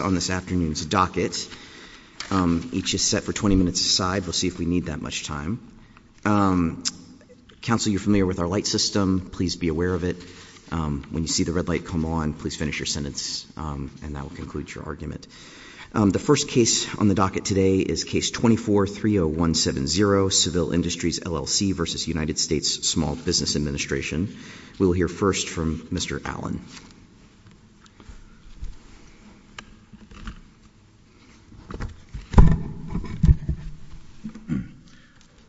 on this afternoon's docket. Each is set for 20 minutes aside. We'll see if we need that much time. Council, you're familiar with our light system. Please be aware of it. When you see the red light come on, please finish your sentence and that will conclude your argument. The first case on the docket today is Case 24-30170, Seville Industries LLC v. United States Small Business Administration. We'll hear first from Mr. Allen.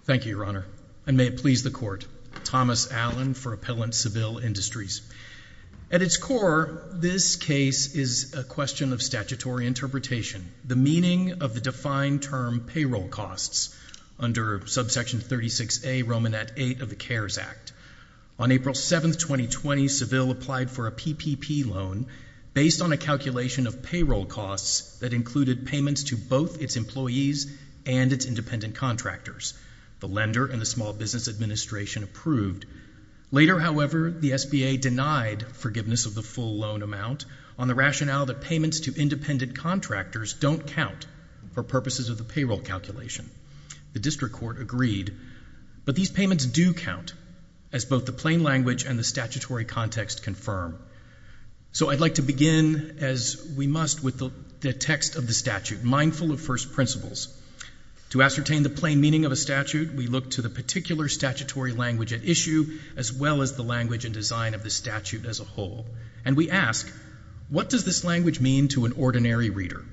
Thank you, Your Honor. And may it please the Court. Thomas Allen for Appellant Seville Industries. At its core, this case is a question of statutory interpretation, the meaning of the defined term payroll costs under Subsection 36A, Romanette 8 of the CARES Act. On April 7, 2020, Seville applied for a PPP loan based on a calculation of payroll costs that included payments to both its employees and its independent contractors. The lender and the Small Business Administration approved. Later, however, the SBA denied forgiveness of the full loan amount on the rationale that payments to independent contractors don't count for purposes of the payroll calculation. The District Court agreed, but these payments do count as both the plain language and the statutory context confirm. So I'd like to begin as we must with the text of the statute, mindful of first principles. To ascertain the plain meaning of a statute, we look to the particular statutory language at issue as well as the language and design of the statute as a whole, and we ask, what does this language mean to an ordinary reader?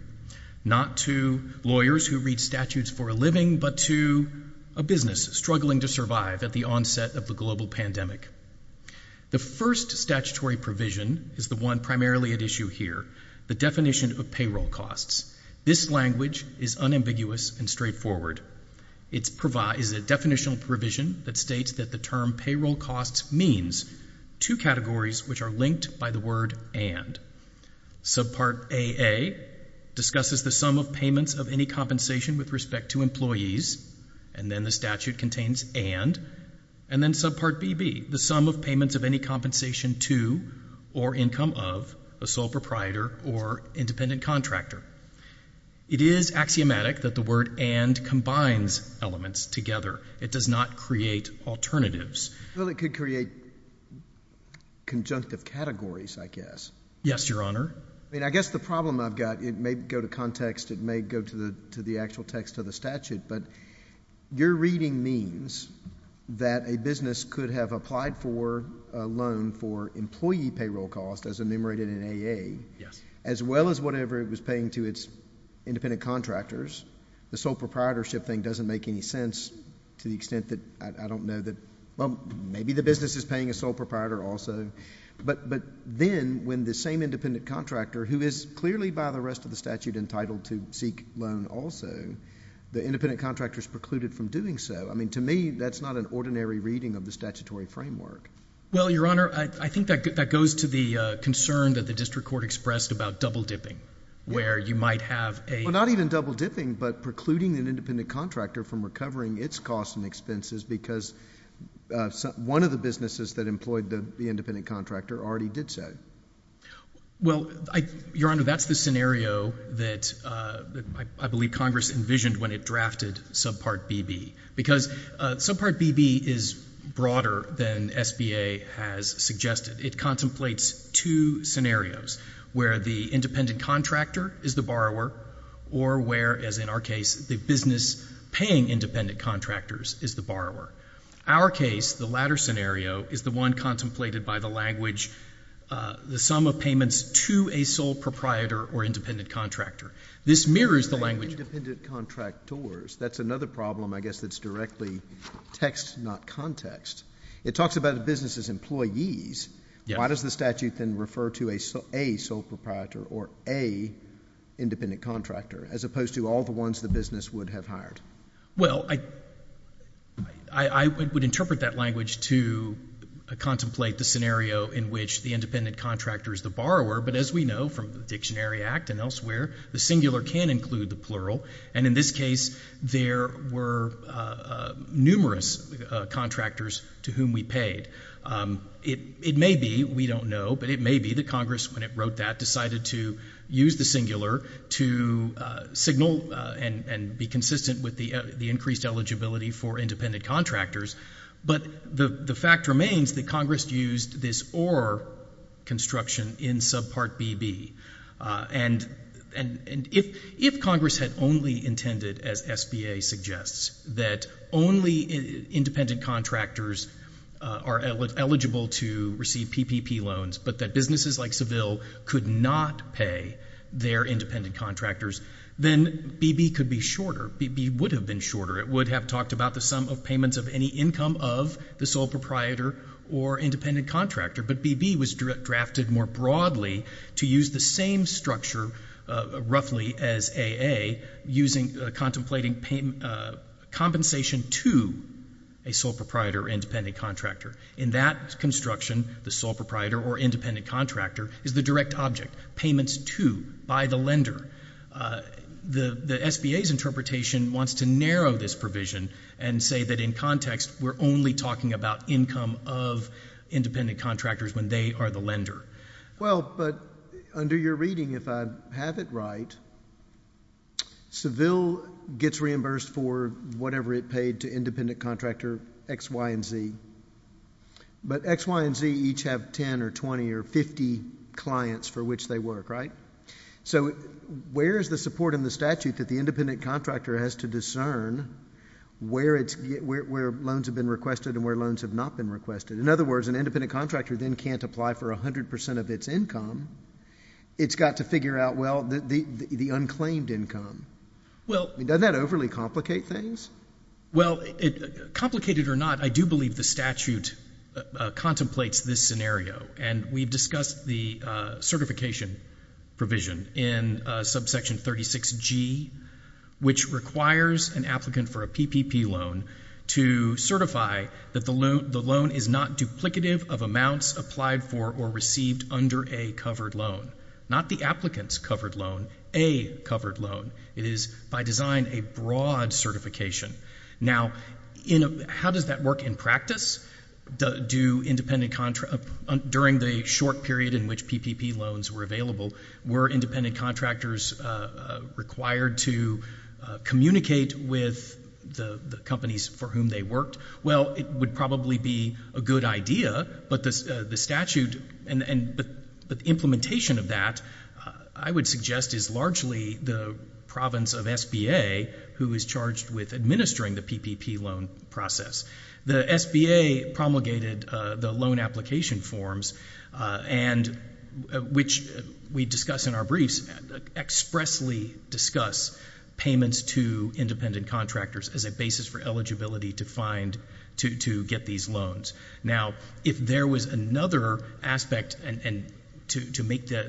Not to lawyers who read statutes for a living, but to a business struggling to survive at the onset of the global pandemic. The first statutory provision is the one primarily at issue here, the definition of payroll costs. This language is unambiguous and straightforward. It is a definitional provision that states that the term payroll costs means two categories which are linked by the word and. Subpart AA discusses the sum of payments of any compensation with respect to employees, and then the statute contains and, and then subpart BB, the sum of payments of any compensation to or income of a sole proprietor or independent contractor. It is axiomatic that the word and combines elements together. It does not create alternatives. Well, it could create conjunctive categories, I guess. Yes, Your Honor. I mean, I guess the problem I've got, it may go to context, it may go to the actual text of the statute, but your reading means that a business could have applied for a loan for employee payroll costs as enumerated in AA, as well as whatever it was paying to its independent contractors. The sole proprietorship thing doesn't make any sense to the extent that I, I don't know that, well, maybe the business is paying a sole proprietor also, but, but then when the same independent contractor who is clearly by the rest of the statute entitled to seek loan also, the independent contractor is precluded from doing so. I mean, to me, that's not an ordinary reading of the statutory framework. Well, Your Honor, I, I think that, that goes to the concern that the district court expressed about double dipping, where you might have a... Well, not even double dipping, but precluding an independent contractor from recovering its costs and expenses because one of the businesses that employed the, the independent contractor already did so. Well, I, Your Honor, that's the scenario that I, I believe Congress envisioned when it drafted Subpart BB because Subpart BB is broader than SBA has suggested. It contemplates two scenarios where the independent contractor is the borrower or where, as in our case, the business paying independent contractors is the borrower. Our case, the latter scenario, is the one contemplated by the language, the sum of payments to a sole proprietor or independent contractor. This mirrors the language... There's another problem, I guess, that's directly text, not context. It talks about the business' employees. Why does the statute then refer to a sole, a sole proprietor or a independent contractor, as opposed to all the ones the business would have hired? Well, I, I, I would interpret that language to contemplate the scenario in which the independent contractor is the borrower, but as we know from the Dictionary Act and elsewhere, the singular can include the plural, and in this case, there were numerous contractors to whom we paid. It, it may be, we don't know, but it may be that Congress, when it wrote that, decided to use the singular to signal and, and be consistent with the, the increased eligibility for independent contractors, but the, the fact remains that Congress used this for construction in subpart BB, and, and, and if, if Congress had only intended, as SBA suggests, that only independent contractors are eligible to receive PPP loans, but that businesses like Seville could not pay their independent contractors, then BB could be shorter. BB would have been shorter. It would have talked about the sum of payments of any income of the sole proprietor or independent contractor, but BB was drafted more broadly to use the same structure, roughly, as AA, using, contemplating payment, compensation to a sole proprietor or independent contractor. In that construction, the sole proprietor or independent contractor is the direct object. Payments to, by the lender. The, the SBA's interpretation wants to narrow this provision and say that in context, we're only talking about income of independent contractors when they are the lender. Well, but under your reading, if I have it right, Seville gets reimbursed for whatever it paid to independent contractor X, Y, and Z, but X, Y, and Z each have 10 or 20 or 50 clients for which they work, right? So, where is the support in the statute that the independent contractor has to discern where it's, where, where loans have been requested and where loans have not been requested? In other words, an independent contractor then can't apply for 100% of its income. It's got to figure out, well, the, the, the, the unclaimed income. Well, doesn't that overly complicate things? Well, it, complicated or not, I do believe the statute contemplates this scenario, and we've discussed the certification provision in subsection 36G, which requires an applicant for a PPP loan to certify that the loan, the loan is not duplicative of amounts applied for or received under a covered loan. Not the applicant's covered loan, a covered loan. It is, by design, a broad certification. Now, in a, how does that work in practice? Do independent contra, during the short period in which PPP loans were available, were independent contractors required to communicate with the, the companies for whom they worked? Well, it would probably be a good idea, but the, the statute, and, and, but, but implementation of that, I would suggest is largely the province of SBA who is charged with administering the PPP loan process. The SBA promulgated the loan application forms, and, which we discuss in our briefs, expressly discuss payments to independent contractors as a basis for eligibility to find, to, to get these loans. Now, if there was another aspect, and, and to, to make the,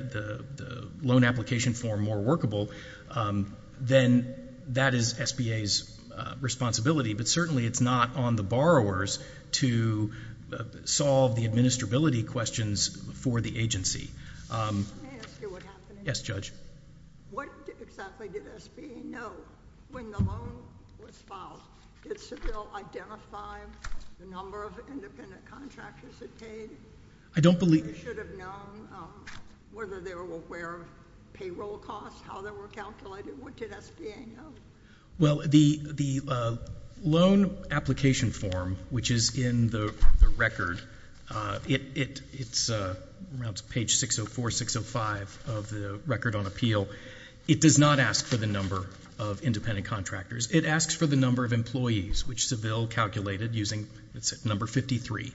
the, the loan application form more workable, then that is SBA's responsibility, but certainly it's not on the borrowers to solve the administrability questions for the agency. Let me ask you what happened. Yes, Judge. What exactly did SBA know when the loan was filed? Did Seville identify the number of independent contractors that paid? I don't believe. Should have known whether they were aware of payroll costs, how they were calculated? What did SBA know? Well, the, the loan application form, which is in the, the record, it, it, it's around page 604, 605 of the record on appeal. It does not ask for the number of independent contractors. It asks for the number of employees, which Seville calculated using, let's say, number 53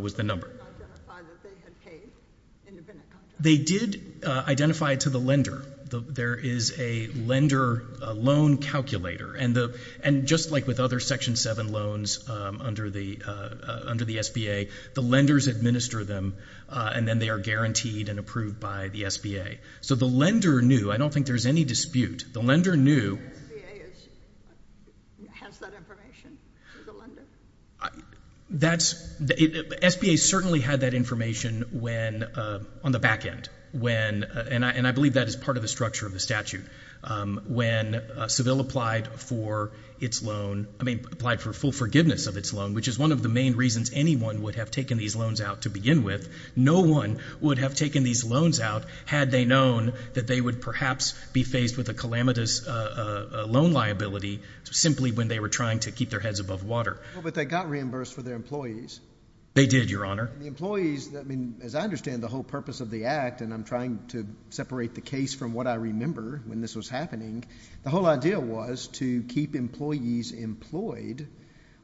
was the number. They did identify that they had paid independent lender loan calculator, and the, and just like with other Section 7 loans under the, under the SBA, the lenders administer them, and then they are guaranteed and approved by the SBA. So the lender knew. I don't think there's any dispute. The lender knew. Has that information for the lender? That's, SBA certainly had that information when, on the statute, when Seville applied for its loan, I mean, applied for full forgiveness of its loan, which is one of the main reasons anyone would have taken these loans out to begin with. No one would have taken these loans out had they known that they would perhaps be faced with a calamitous loan liability simply when they were trying to keep their heads above water. Well, but they got reimbursed for their employees. They did, Your Honor. The employees, I mean, as I understand the whole purpose of the act, and I'm trying to separate the case from what I remember when this was happening, the whole idea was to keep employees employed,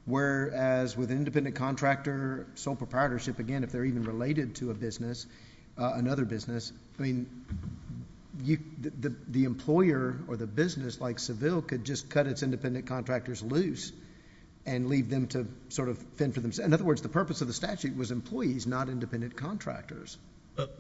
whereas with an independent contractor, sole proprietorship, again, if they're even related to a business, another business, I mean, you, the, the employer or the business like Seville could just cut its independent contractors loose and leave them to sort of fend for themselves. In other words, the purpose of the statute was employees, not independent contractors.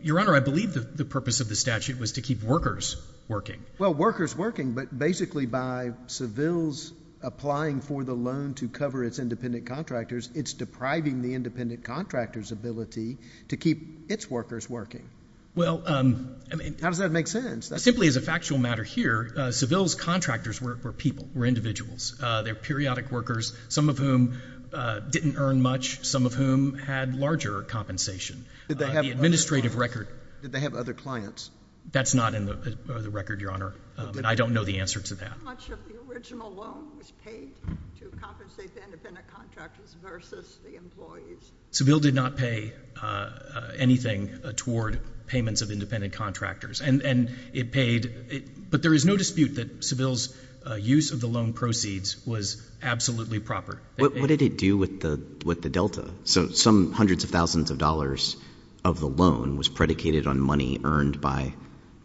Your Honor, I believe that the purpose of the statute was to keep workers working. Well, workers working, but basically by Seville's applying for the loan to cover its independent contractors, it's depriving the independent contractor's ability to keep its workers working. Well, um, I mean, how does that make sense? Simply as a factual matter here, uh, Seville's contractors were, were people, were individuals. Uh, they're periodic workers, some of whom, uh, didn't earn much, some of whom had larger compensation. Uh, the administrative record. Did they have other clients? That's not in the, uh, record, Your Honor. Um, and I don't know the answer to that. How much of the original loan was paid to compensate the independent contractors versus the employees? Seville did not pay, uh, uh, anything toward payments of independent contractors. And, and it paid, it, but there is no dispute that Seville's, uh, use of the loan proceeds was absolutely proper. What did it do with the, with the Delta? So some hundreds of thousands of dollars of the loan was predicated on money earned by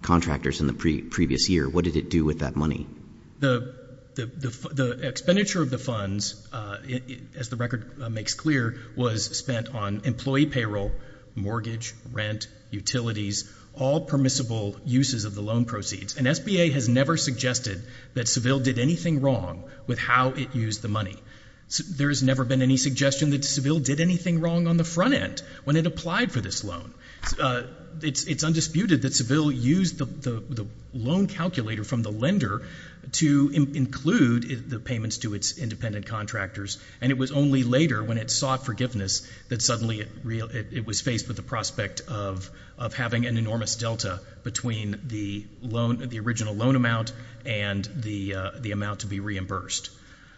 contractors in the pre previous year. What did it do with that money? The, the, the, the expenditure of the funds, uh, as the record makes clear, was spent on employee payroll, mortgage, rent, utilities, all permissible uses of the loan proceeds. And SBA has never suggested that Seville did anything wrong with how it used the money. There has never been any suggestion that Seville did anything wrong on the front end when it applied for this loan. Uh, it's, it's undisputed that Seville used the, the, the loan calculator from the lender to include the payments to its independent contractors. And it was only later when it sought forgiveness that suddenly it, it was faced with the prospect of, of having an enormous Delta between the loan, the original loan amount and the, uh, the amount to be reimbursed.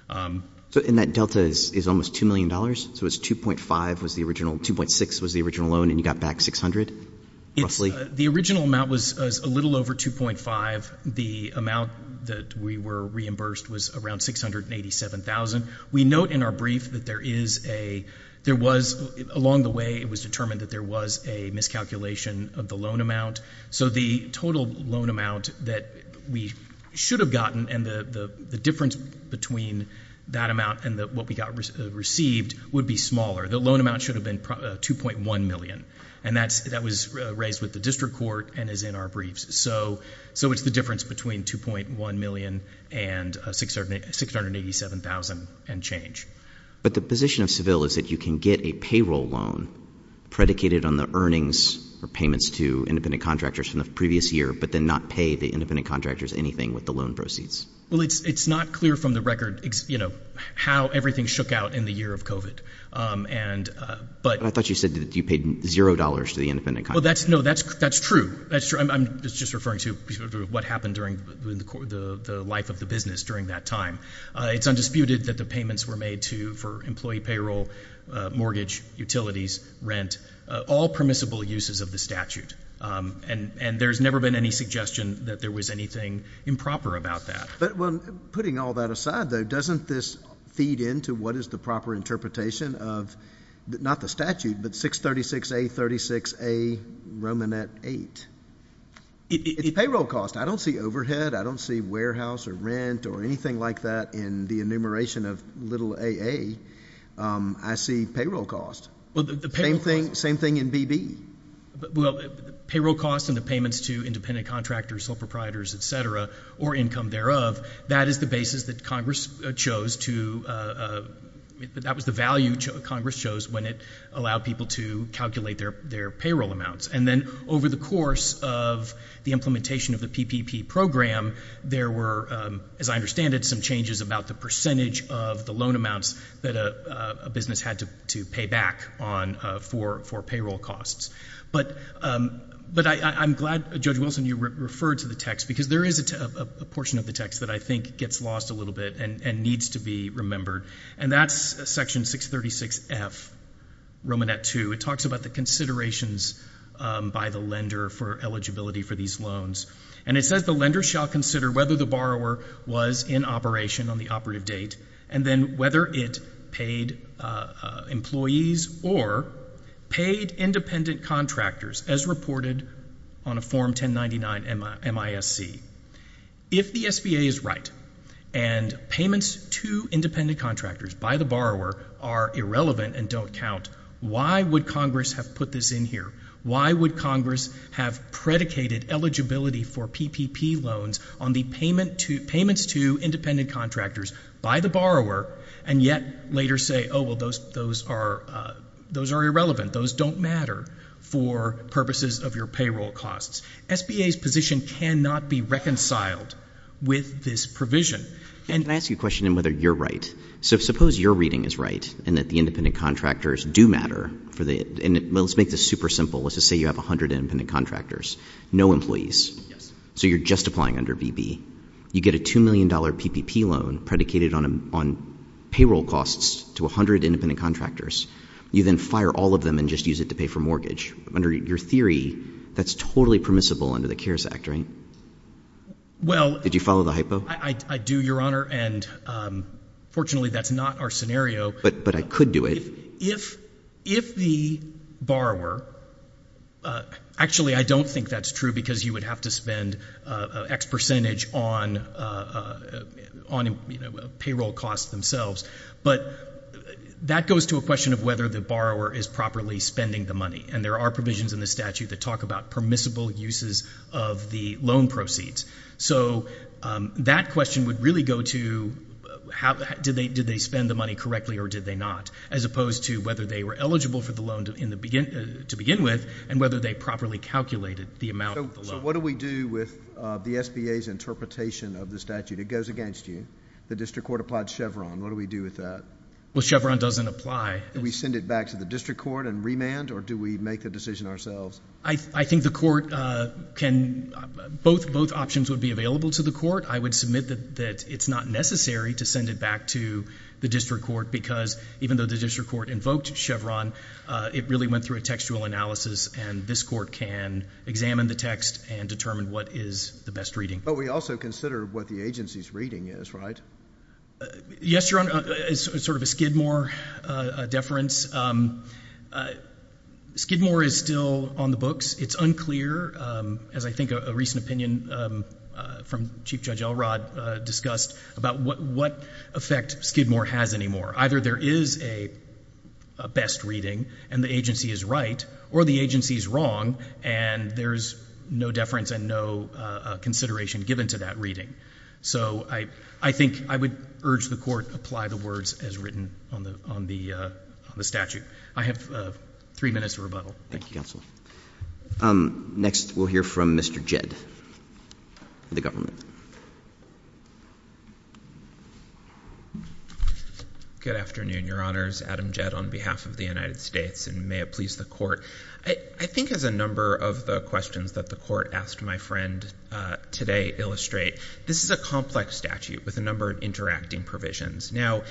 Um, so in that Delta is, is almost $2 million. So it's 2.5 was the original 2.6 was the original loan and you got back 600. It's the original amount was a little over 2.5. The amount that we were reimbursed was around 687,000. We note in our brief that there is a, there was along the way it was determined that there was a miscalculation of the loan amount. So the total loan amount that we should have gotten and the, the, the difference between that amount and what we got received would be smaller. The loan amount should have been 2.1 million and that's, that was raised with the district court and is in our briefs. So, so it's the difference between 2.1 million and 680, 687,000 and change. But the position of Seville is that you can get a payroll loan predicated on the earnings or payments to independent contractors from the previous year, but then not pay the independent contractors anything with the loan proceeds. Well, it's, it's not clear from the record, you know, how everything shook out in the year of COVID. Um, and, uh, but I thought you said that you paid $0 to the independent. Well, that's no, that's, that's true. That's true. I'm just referring to what happened during the life of the business during that time. Uh, it's undisputed that the payments were made to, for employee payroll, uh, mortgage utilities, rent, uh, all permissible uses of the statute. Um, and, and there's never been any suggestion that there was anything improper about that. But when putting all that aside though, doesn't this feed into what is the proper interpretation of not the statute, but 636, 836, a Roman at eight. It's payroll cost. I don't see overhead. I don't see warehouse or rent or anything like that in the enumeration of little AA. Um, I see payroll cost. Well, the same thing, same thing in BB. Well, payroll costs and the payments to independent contractors, sole proprietors, et cetera, or income thereof. That is the basis that Congress chose to, uh, that was the value Congress shows when it allowed people to calculate their, their payroll amounts. And then over the course of the implementation of the PPP program, there were, um, as I understand it, some changes about the percentage of the loan amounts that, uh, uh, a business had to, to pay back on, uh, for, for payroll costs. But, um, but I, I, I'm glad Judge Wilson, you referred to the text because there is a, a, a portion of the text that I think gets lost a little bit and, and needs to be remembered. And that's section 636 F Roman at two. It talks about the considerations, um, by the lender for eligibility for these loans. And it says the lender shall consider whether the borrower was in operation on the operative date and then whether it paid, uh, uh, employees or paid independent contractors as reported on a Form 1099 MISC. If the SBA is right and payments to independent contractors by the borrower are irrelevant and don't count, why would Congress have put this in here? Why would Congress have predicated eligibility for PPP loans on the payment to, payments to independent contractors by the borrower and yet later say, oh, well, those, those are, uh, those are irrelevant. Those don't matter for purposes of your payroll costs. SBA's position cannot be reconciled with this provision. And I ask you a question on whether you're right. So suppose your reading is right and that the independent contractors do matter for the, and let's make this super simple. Let's just say you have a hundred independent contractors, no employees. Yes. So you're just applying under BB. You get a $2 million PPP loan predicated on, on payroll costs to a hundred independent contractors. You then fire all of them and just use it to pay for mortgage under your theory. That's totally permissible under the CARES Act, right? Well, did you follow the hypo? I do, Your Honor. And, um, fortunately that's not our scenario, but I could do it if, if the borrower, uh, actually I don't think that's true because you would have to spend, uh, X percentage on, uh, on, you know, payroll costs themselves. But that goes to a question of whether the borrower is properly spending the money. And there are provisions in the statute that talk about permissible uses of the loan proceeds. So, um, that question would really go to how, did they, did they spend the money correctly or did they not? As opposed to whether they were eligible for the loan to begin with and whether they properly calculated the amount. So what do we do with, uh, the SBA's interpretation of the statute? It goes against you. The district court applied Chevron. What do we do with that? Well, Chevron doesn't apply. Do we send it back to the district court and remand or do we make the decision ourselves? I, I think the court, uh, can, both, both options would be available to the court. I would submit that, that it's not necessary to send it back to the district court because even though the district court invoked Chevron, uh, it really went through a textual analysis and this court can examine the text and determine what is the best reading. But we also consider what the agency's reading is, right? Uh, yes, Your Honor, it's sort of a Skidmore, uh, deference. Um, uh, Skidmore is still on the books. It's unclear, um, as I think a recent opinion, um, uh, from Chief Judge Elrod, uh, discussed about what, what effect Skidmore has anymore. Either there is a, a best reading and the agency is right or the agency is wrong and there's no deference and no, uh, uh, consideration given to that reading. So I, I think I would urge the court to apply the words as written on the, on the, uh, on the statute. I have, uh, three minutes to rebuttal. Thank you. Thank you, counsel. Um, next we'll hear from Mr. Jedd, the government. Good afternoon, Your Honors. Adam Jedd on behalf of the United States and may it please the court. I think as a number of the questions that the court asked my friend, uh, today illustrate, this is a complex statute with a number of interacting provisions. Now,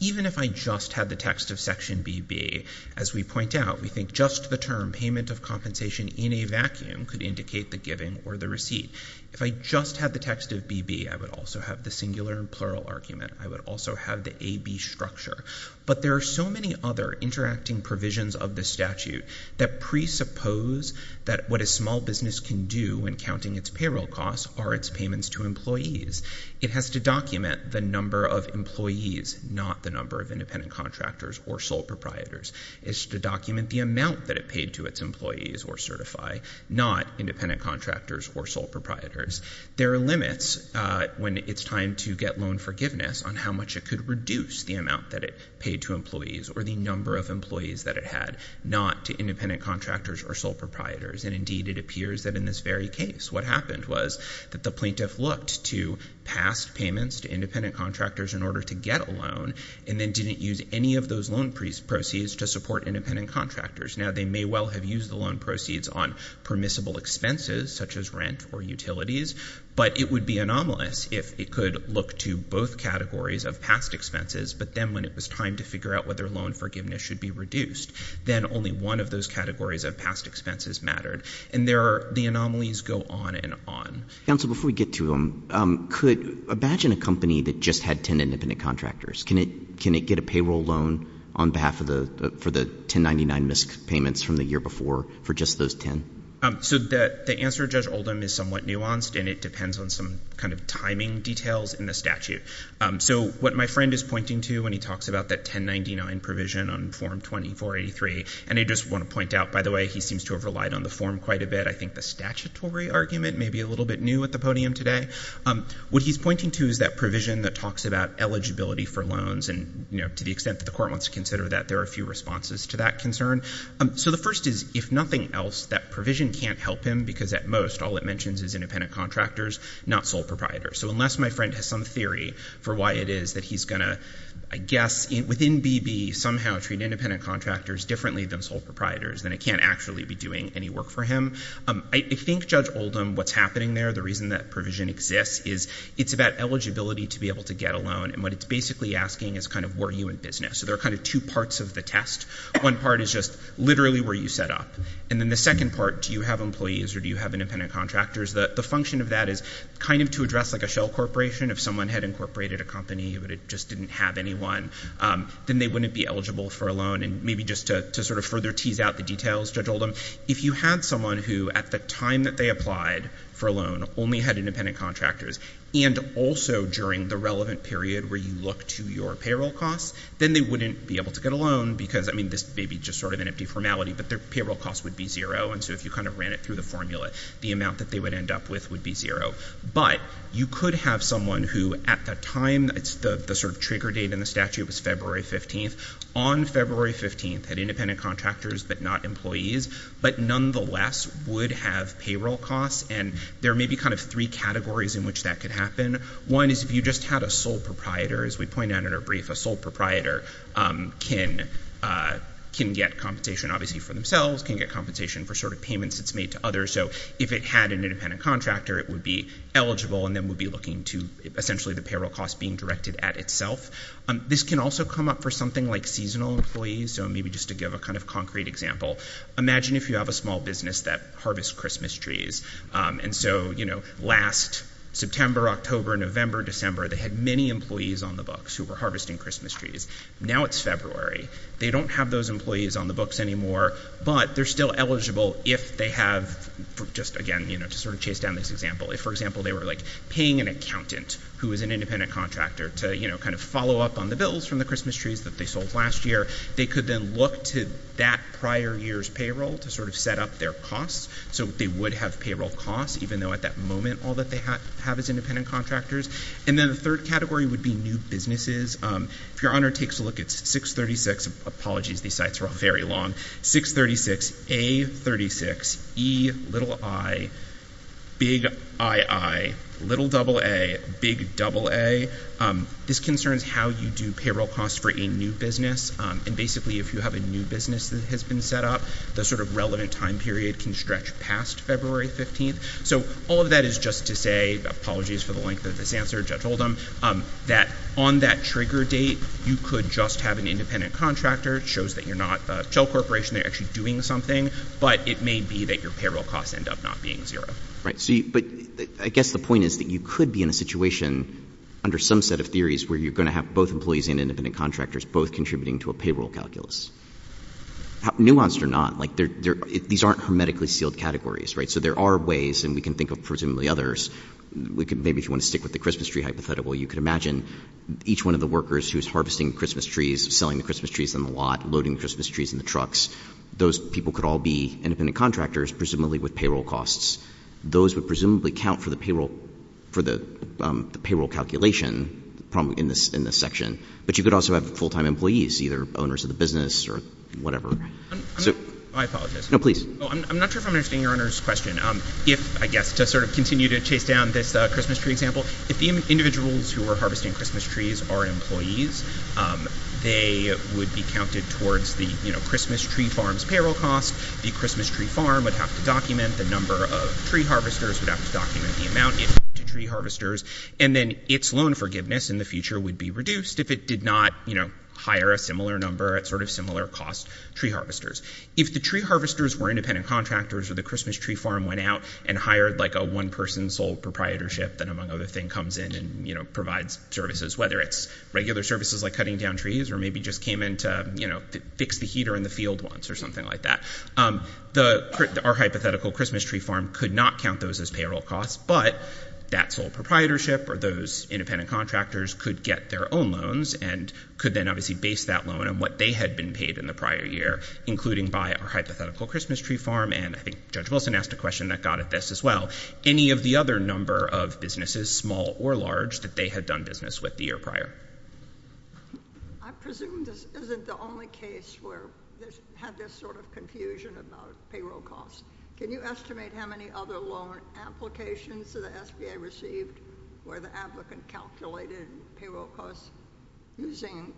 even if I just had the text of section BB, as we point out, we think just the term payment of compensation in a vacuum could indicate the giving or the receipt. If I just had the text of BB, I would also have the singular and plural argument. I would also have the BB structure. But there are so many other interacting provisions of the statute that presuppose that what a small business can do when counting its payroll costs are its payments to employees. It has to document the number of employees, not the number of independent contractors or sole proprietors. It's to document the amount that it paid to its employees or certify not independent contractors or sole proprietors. There are limits, uh, when it's time to get loan forgiveness on how much it could reduce the amount that it paid to employees or the number of employees that it had, not to independent contractors or sole proprietors. And indeed, it appears that in this very case, what happened was that the plaintiff looked to past payments to independent contractors in order to get a loan and then didn't use any of those loan proceeds to support independent contractors. Now, they may well have used the loan proceeds on permissible expenses, such as rent or utilities, but it would be anomalous if it could look to both categories of past expenses. But then when it was time to figure out whether loan forgiveness should be reduced, then only one of those categories of past expenses mattered. And there are, the anomalies go on and on. Counsel, before we get to, um, um, could imagine a company that just had 10 independent contractors. Can it, can it get a payroll loan on behalf of the, uh, for the 1099 missed payments from the year before for just those 10? Um, so that the answer Judge Oldham is somewhat nuanced and it depends on some kind of timing details in the statute. Um, so what my friend is pointing to when he talks about that 1099 provision on form 2483, and I just want to point out, by the way, he seems to have relied on the form quite a bit. I think the statutory argument may be a little bit new at the podium today. Um, what he's pointing to is that provision that talks about eligibility for loans and, you know, to the extent that the court wants to consider that there are a few responses to that concern. Um, so the first is if nothing else, that provision can't help him because at most all it mentions is independent contractors, not sole proprietors. So unless my friend has some theory for why it is that he's going to, I guess, within BB, somehow treat independent contractors differently than sole proprietors, then it can't actually be doing any work for him. Um, I, I think Judge Oldham, what's happening there, the reason that provision exists is it's about eligibility to be able to get a loan and what it's basically asking is kind of were you in business? So there are kind of two parts of the test. One part is just literally where you set up and then the second part, do you have employees or do you have independent contractors? The, the function of that is kind of to address like a shell corporation. If someone had incorporated a company but it just didn't have anyone, um, then they wouldn't be eligible for a loan and maybe just to, to sort of further tease out the details, Judge Oldham, if you had someone who at the time that they applied for a loan only had independent contractors and also during the relevant period where you look to your payroll costs, then they wouldn't be able to get a loan because, I mean, this may be just sort of an empty formality but their payroll costs would be zero and so if you kind of ran it through the formula, the amount that they would end up with would be zero. But you could have someone who at that time, it's the, the sort of trigger date in the statute was February 15th, on February 15th had independent contractors but not employees but nonetheless would have payroll costs and there may be kind of three categories in which that could happen. One is if you just had a sole proprietor, as we pointed out in our brief, a sole proprietor, um, can, uh, can get compensation obviously for themselves, can get compensation for sort of payments it's made to others, so if it had an independent contractor it would be eligible and then would be looking to essentially the payroll costs being directed at itself. Um, this can also come up for something like seasonal employees, so maybe just to give a kind of concrete example. Imagine if you have a small business that harvests Christmas trees, um, and so, you know, last September, October, November, December they had many employees on the books who were harvesting Christmas trees. Now it's February, they don't have those employees on the books anymore but they're still eligible if they have, just again, you know, to sort of chase down this example, if for example they were like paying an accountant who is an independent contractor to, you know, kind of follow up on the bills from the Christmas trees that they sold last year, they could then look to that prior year's payroll to sort of set up their costs, so they would have payroll costs even though at that moment all that they have is independent contractors. And then the third category would be new businesses. Um, if your honor takes a look at 636, apologies these sites are all very long, 636A36Eiiiii, little double A, big double A, um, this concerns how you do payroll costs for a new business, um, and basically if you have a new business that has been set up, the sort of relevant time period can stretch past February 15th, so all of that is just to say, apologies for the length of this answer, Judge Oldham, um, that on that trigger date you could just have an independent contractor, it shows that you're not a shell corporation, they're actually doing something, but it may be that your payroll costs end up not being zero. Right, so you, but I guess the point is that you could be in a situation under some set of theories where you're going to have both employees and independent contractors both contributing to a payroll calculus. Nuanced or not, like there, there, these aren't hermetically sealed categories, right, so there are ways, and we can think of presumably others, we could, maybe if you want to stick with the Christmas tree hypothetical, you could imagine each one of the workers who's harvesting Christmas trees, selling the Christmas trees in the lot, loading the Christmas trees in the trucks, those people could all be independent contractors, presumably with payroll costs. Those would presumably count for the payroll, for the, um, the payroll calculation, probably in this, in this section, but you could also have full-time employees, either owners of the business or whatever. Right. I'm, I'm, I apologize. No, please. Oh, I'm, I'm not sure if I'm understanding your Honor's question. Um, if, I guess to sort of continue to chase down this, uh, Christmas tree example, if the individuals who are harvesting Christmas trees are employees, um, they would be counted towards the, you know, Christmas tree farm's payroll costs, the Christmas tree farm would have to document the number of tree harvesters, would have to document the amount given to tree harvesters, and then its loan forgiveness in the future would be reduced if it did not, you know, hire a similar number at sort of similar cost tree harvesters. If the tree harvesters were independent contractors or the Christmas tree farm went out and hired like a one-person sole proprietorship that among other things comes in and, you know, provides services, whether it's regular services like cutting down trees or maybe just came in to, you know, fix the heater in the field once or something like that. Um, the, our hypothetical Christmas tree farm could not count those as payroll costs, but that sole proprietorship or those independent contractors could get their own loans and could then obviously base that loan on what they had been paid in the prior year, including by our hypothetical Christmas tree farm, and I think Judge Wilson asked a question that got at this as well. Any of the other number of businesses, small or large, that they had done business with the year prior? I presume this isn't the only case where there's, had this sort of confusion about payroll costs. Can you estimate how many other loan applications that the SBA received where the applicant calculated payroll costs using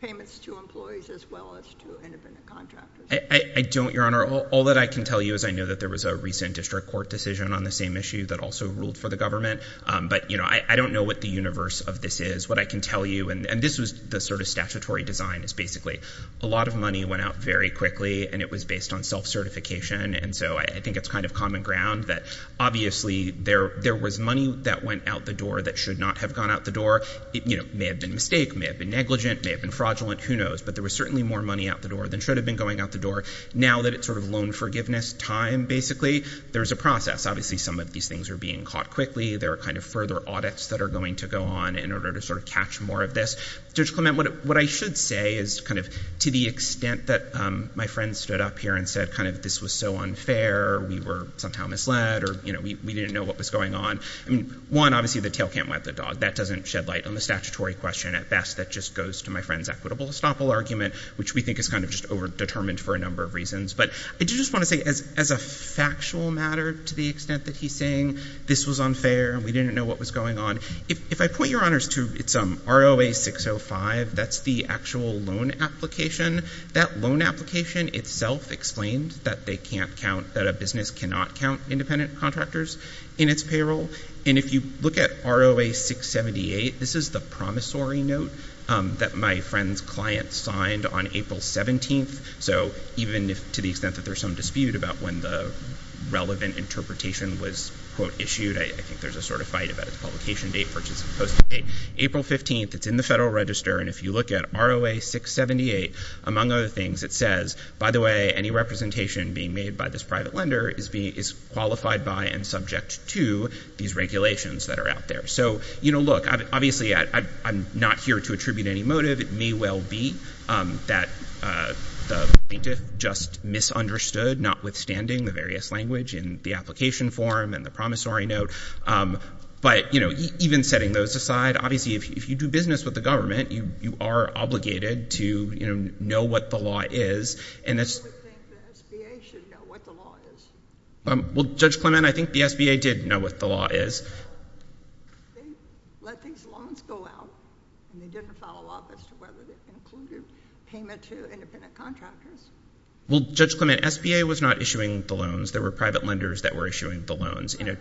payments to employees as well as to independent contractors? I don't, Your Honor. All that I can tell you is I know that there was a recent district court decision on the same issue that also ruled for the government, but, you know, I don't know what the universe of this is. What I can tell you, and this was the sort of statutory design, is basically a lot of money went out very quickly, and it was based on self-certification, and so I think it's kind of common ground that obviously there was money that went out the door that should not have gone out the door. You know, it may have been a mistake, may have been negligent, may have been fraudulent, who knows, but there was certainly more money out the door than should have been going out the door. Now that it's sort of loan forgiveness time, basically, there's a process. Obviously, some of these things are being caught quickly. There are kind of further audits that are going to go on in order to sort of catch more of this. Judge Clement, what I should say is kind of to the extent that my friend stood up here and said kind of this was so unfair, we were somehow misled, or, you know, we didn't know what was going on. I mean, one, obviously the tail can't wet the dog. That doesn't shed light on the statutory question. At best, that just goes to my friend's equitable estoppel argument, which we think is kind of just over-determined for a number of reasons, but I do just want to say as a factual matter, to the extent that he's saying this was unfair and we didn't know what was going on, if I point your honors to ROA 605, that's the actual loan application. That loan application itself explained that they can't count, that a business cannot count independent contractors in its payroll, and if you look at ROA 678, this is the promissory note that my friend's client signed on April 17th, so even to the extent that there's some dispute about when the relevant interpretation was, quote, issued, I think there's a sort of fight about its publication date, purchase and posting date. April 15th, it's in the Federal Register, and if you look at ROA 678, among other things, it says, by the way, any representation being made by this private lender is qualified by and subject to these regulations that are out there. So, you know, look, obviously I'm not here to attribute any motive. It may well be that the plaintiff just misunderstood, notwithstanding the various language in the application form and the promissory note, but, you know, even setting those aside, obviously, if you do business with the government, you are obligated to, you know, know what the law is, and that's... I don't think the SBA should know what the law is. Well, Judge Clement, I think the SBA did know what the law is. They let these loans go out, and they didn't follow up as to whether they included payment to independent contractors. Well, Judge Clement, SBA was not issuing the loans. There were private lenders that were issuing the loans in a...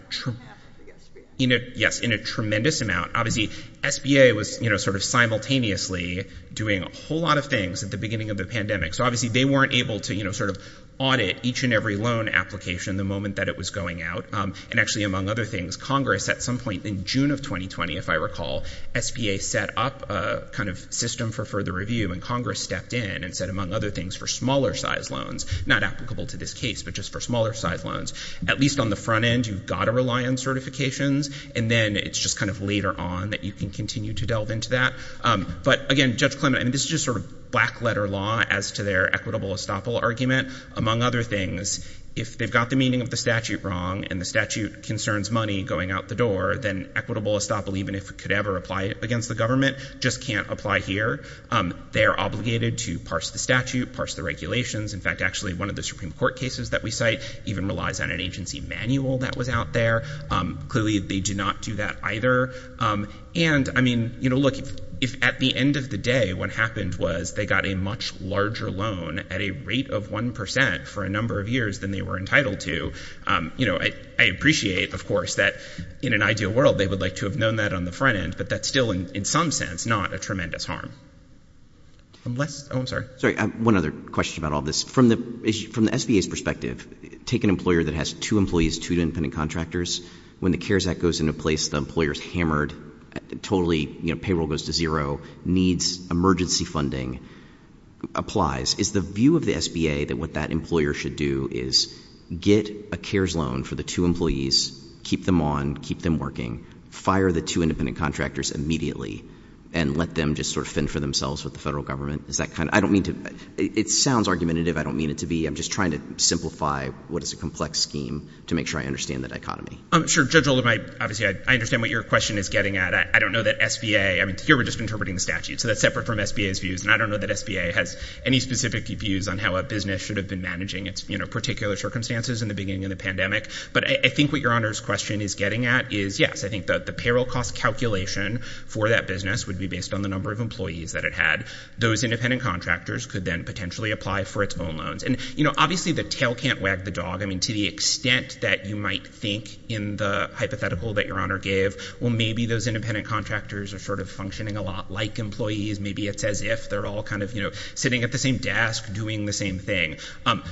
Yes, in a tremendous amount. Obviously, SBA was, you know, sort of simultaneously doing a whole lot of things at the beginning of the pandemic. So, obviously, they weren't able to, you know, sort of audit each and every loan application the moment that it was going out, and actually, among other things, Congress at some point in June of 2020, if I recall, SBA set up a kind of system for further review, and Congress stepped in and set, among other things, for smaller-sized loans, not applicable to this case, but just for smaller-sized loans. At least on the front end, you've got to rely on certifications, and then it's just kind of later on that you can continue to delve into that. But, again, Judge Clement, I mean, this is just sort of black-letter law as to their equitable estoppel argument. Among other things, if they've got the meaning of the statute wrong, and the statute concerns money going out the door, then equitable estoppel, even if it could ever apply against the government, just can't apply here. They are obligated to parse the statute, parse the regulations. In fact, actually, one of the Supreme Court cases that we cite even relies on an agency manual that was out there. Clearly, they did not do that either. And, I mean, you know, look, if at the end of the day, what happened was they got a much larger loan at a rate of 1 percent for a number of years than they were entitled to, you know, I appreciate, of course, that in an ideal world, they would like to have known that on the front end, but that's still, in some sense, not a tremendous harm. I'm less, oh, I'm sorry, sorry, one other question about all this. From the SBA's perspective, take an employer that has two employees, two independent contractors. When the CARES Act goes into place, the employer's hammered, totally, you know, payroll goes to zero, needs emergency funding, applies. Is the view of the SBA that what that employer should do is get a CARES loan for the two employees, keep them on, keep them working, fire the two independent contractors immediately, and let them just sort of fend for themselves with the federal government? Is that kind of, I don't mean to, it sounds argumentative, I don't mean it to be, I'm just trying to simplify what is a complex scheme to make sure I understand the dichotomy. Sure, Judge Oldham, I, obviously, I understand what your question is getting at. I don't know that SBA, I mean, here we're just interpreting the statute, so that's separate from SBA's views, and I don't know that SBA has any specific views on how a business should have been managing its, you know, particular circumstances in the beginning of the pandemic, but I think what your Honor's question is getting at is, yes, I think that the payroll cost calculation for that business would be based on the number of employees that it had. Those independent contractors could then potentially apply for its own loans. And, you know, obviously the tail can't wag the dog, I mean, to the extent that you might think in the hypothetical that your Honor gave, well, maybe those independent contractors are sort of functioning a lot like employees, maybe it's as if they're all kind of, you know, sitting at the same desk doing the same thing.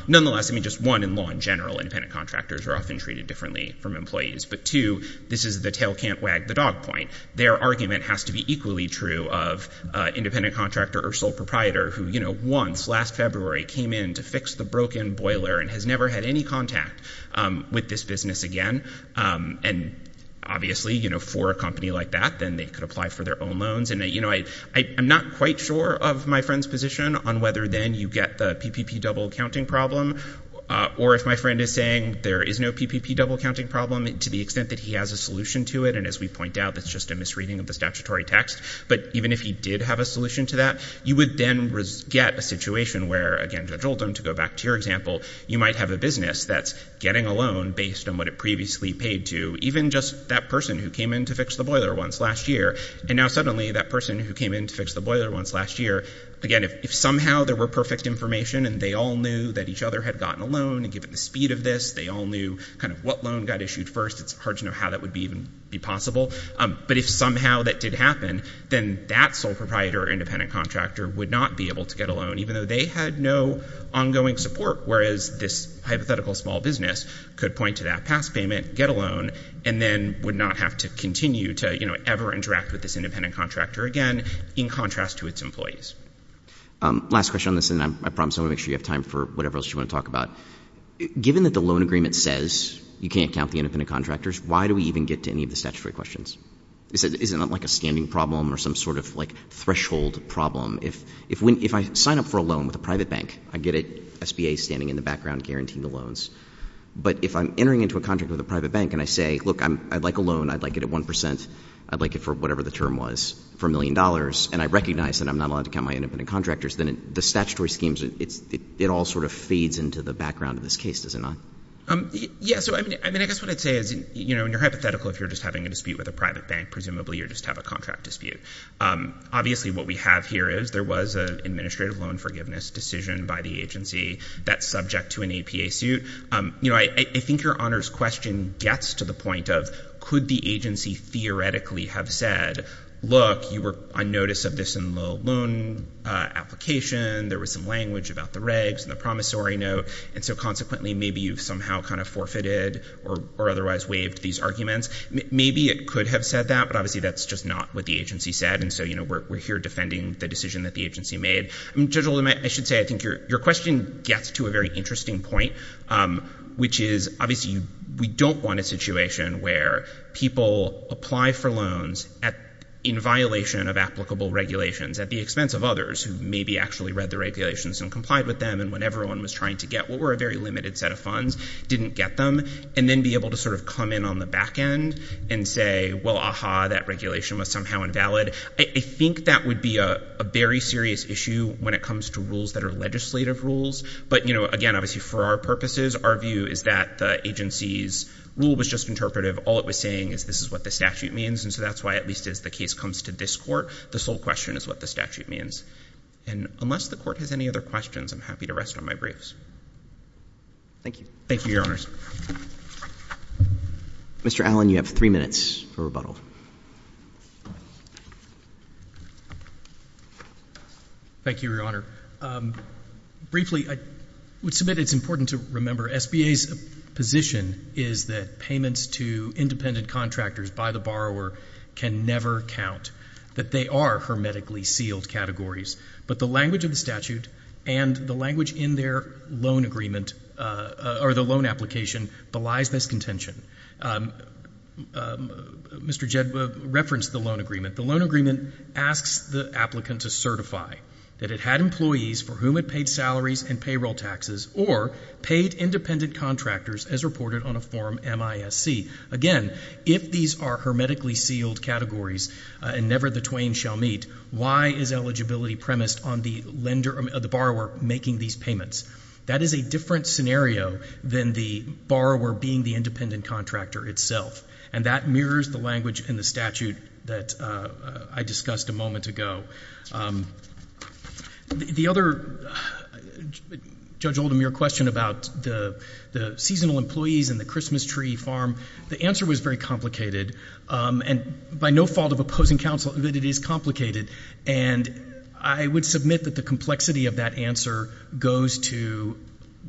Nonetheless, I mean, just one, in law in general, independent contractors are often treated differently from employees, but two, this is the tail can't wag the dog point. Their argument has to be equally true of an independent contractor or sole proprietor who, you know, once, last February, came in to fix the broken boiler and has never had any contact with this business again, and obviously, you know, for a company like that, then they could apply for their own loans. And, you know, I'm not quite sure of my friend's position on whether then you get the PPP double accounting problem, or if my friend is saying there is no PPP double accounting problem, to the extent that he has a solution to it, and as we point out, that's just a misreading of the statutory text, but even if he did have a solution to that, you would then get a situation where, again, Judge Oldham, to go back to your example, you might have a business that's getting a loan based on what it previously paid to, even just that person who came in to fix the boiler once last year, and now suddenly that person who came in to fix the boiler once last year, again, if somehow there were perfect information, and they all knew that each other had gotten a loan, and given the speed of this, they all knew kind of what loan got issued first, it's hard to know how that would even be possible, but if somehow that did happen, then that sole proprietor or independent contractor would not be able to get a loan, even though they had no ongoing support, whereas this hypothetical small business could point to that past payment, get a loan, and then would not have to continue to, you know, ever interact with this independent contractor again, in contrast to its employees. Last question on this, and I promise I want to make sure you have time for whatever else you want to talk about. Given that the loan agreement says you can't count the independent contractors, why do we even get to any of the statutory questions? Is it not like a standing problem or some sort of, like, threshold problem? If I sign up for a loan with a private bank, I get it, SBA standing in the background guaranteeing the loans, but if I'm entering into a contract with a private bank and I say, look, I'd like a loan, I'd like it at 1%, I'd like it for whatever the term was, for a million dollars, and I recognize that I'm not allowed to count my independent contractors, then the statutory schemes, it all sort of feeds into the background of this case, does it not? Yeah, so I mean, I guess what I'd say is, you know, in your hypothetical, if you're just having a dispute with a private bank, presumably you just have a contract dispute. Obviously what we have here is there was an administrative loan forgiveness decision by the agency that's subject to an APA suit. You know, I think your honors question gets to the point of, could the agency theoretically have said, look, you were on notice of this in the loan application, there was some language about the regs and the promissory note, and so consequently maybe you've somehow kind of forfeited or otherwise waived these arguments? Maybe it could have said that, but obviously that's just not what the agency said, and so, you know, we're here defending the decision that the agency made. Judge Oldham, I should say, I think your question gets to a very interesting point, which is, obviously we don't want a situation where people apply for loans in violation of applicable regulations at the expense of others who maybe actually read the regulations and complied with them and what everyone was trying to get, what were a very limited set of funds, didn't get them, and then be able to sort of come in on the back end and say, well, aha, that regulation was somehow invalid. I think that would be a very serious issue when it comes to rules that are legislative rules, but, you know, again, obviously for our purposes, our view is that the agency's rule was just interpretive. All it was saying is this is what the statute means, and so that's why at least as the case comes to this Court, the sole question is what the statute means. And unless the Court has any other questions, I'm happy to rest on my briefs. Thank you. Thank you, Your Honors. Mr. Allen, you have three minutes for rebuttal. Thank you, Your Honor. Briefly, I would submit it's important to remember SBA's position is that payments to independent contractors by the borrower can never count, that they are hermetically sealed categories. But the language of the statute and the language in their loan agreement or the loan application belies this contention. Mr. Jedd referenced the loan agreement. The loan agreement asks the applicant to certify that it had employees for whom it paid salaries and payroll taxes or paid independent contractors as reported on a form MISC. Again, if these are hermetically sealed categories and never the twain shall meet, why is eligibility premised on the lender or the borrower making these payments? That is a different scenario than the borrower being the independent contractor itself. And that mirrors the language in the statute that I discussed a moment ago. The other, Judge Oldham, your question about the seasonal employees and the Christmas tree farm, the answer was very complicated, and by no fault of opposing counsel, that it is complicated. And I would submit that the complexity of that answer goes to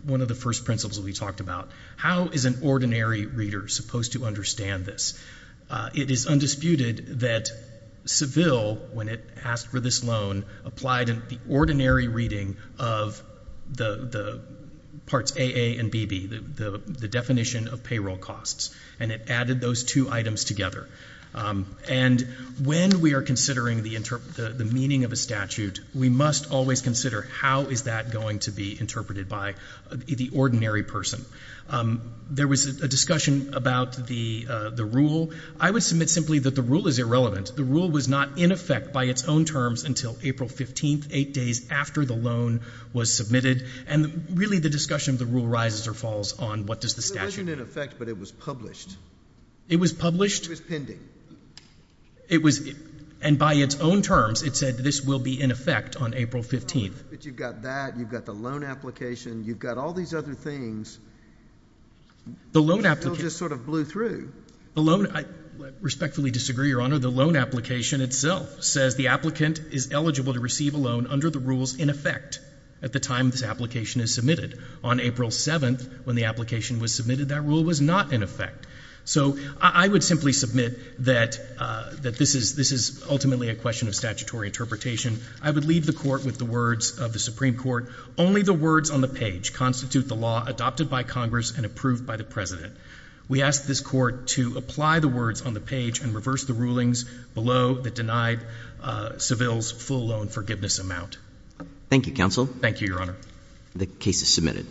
one of the first principles that we talked about. How is an ordinary reader supposed to understand this? It is undisputed that Seville, when it asked for this loan, applied the ordinary reading of the parts AA and BB, the definition of payroll costs, and it added those two items together. And when we are considering the meaning of a statute, we must always consider how is that going to be interpreted by the ordinary person. There was a discussion about the rule. I would submit simply that the rule is irrelevant. The rule was not in effect by its own terms until April 15th, eight days after the loan was submitted, and really the discussion of the rule rises or falls on what does the statute mean. It wasn't in effect, but it was published. It was published? It was pending. It was, and by its own terms, it said this will be in effect on April 15th. But you've got that, you've got the loan application, you've got all these other things. The loan application. Seville just sort of blew through. The loan, I respectfully disagree, Your Honor. The loan application itself says the applicant is eligible to receive a loan under the rules in effect at the time this application is submitted. On April 7th, when the application was submitted, that rule was not in effect. So I would simply submit that this is ultimately a question of statutory interpretation. I would leave the Court with the words of the Supreme Court, only the words on the page constitute the law adopted by Congress and approved by the President. We ask this Court to apply the words on the page and reverse the rulings below that denied Seville's full loan forgiveness amount. Thank you, Counsel. Thank you, Your Honor. The case is submitted.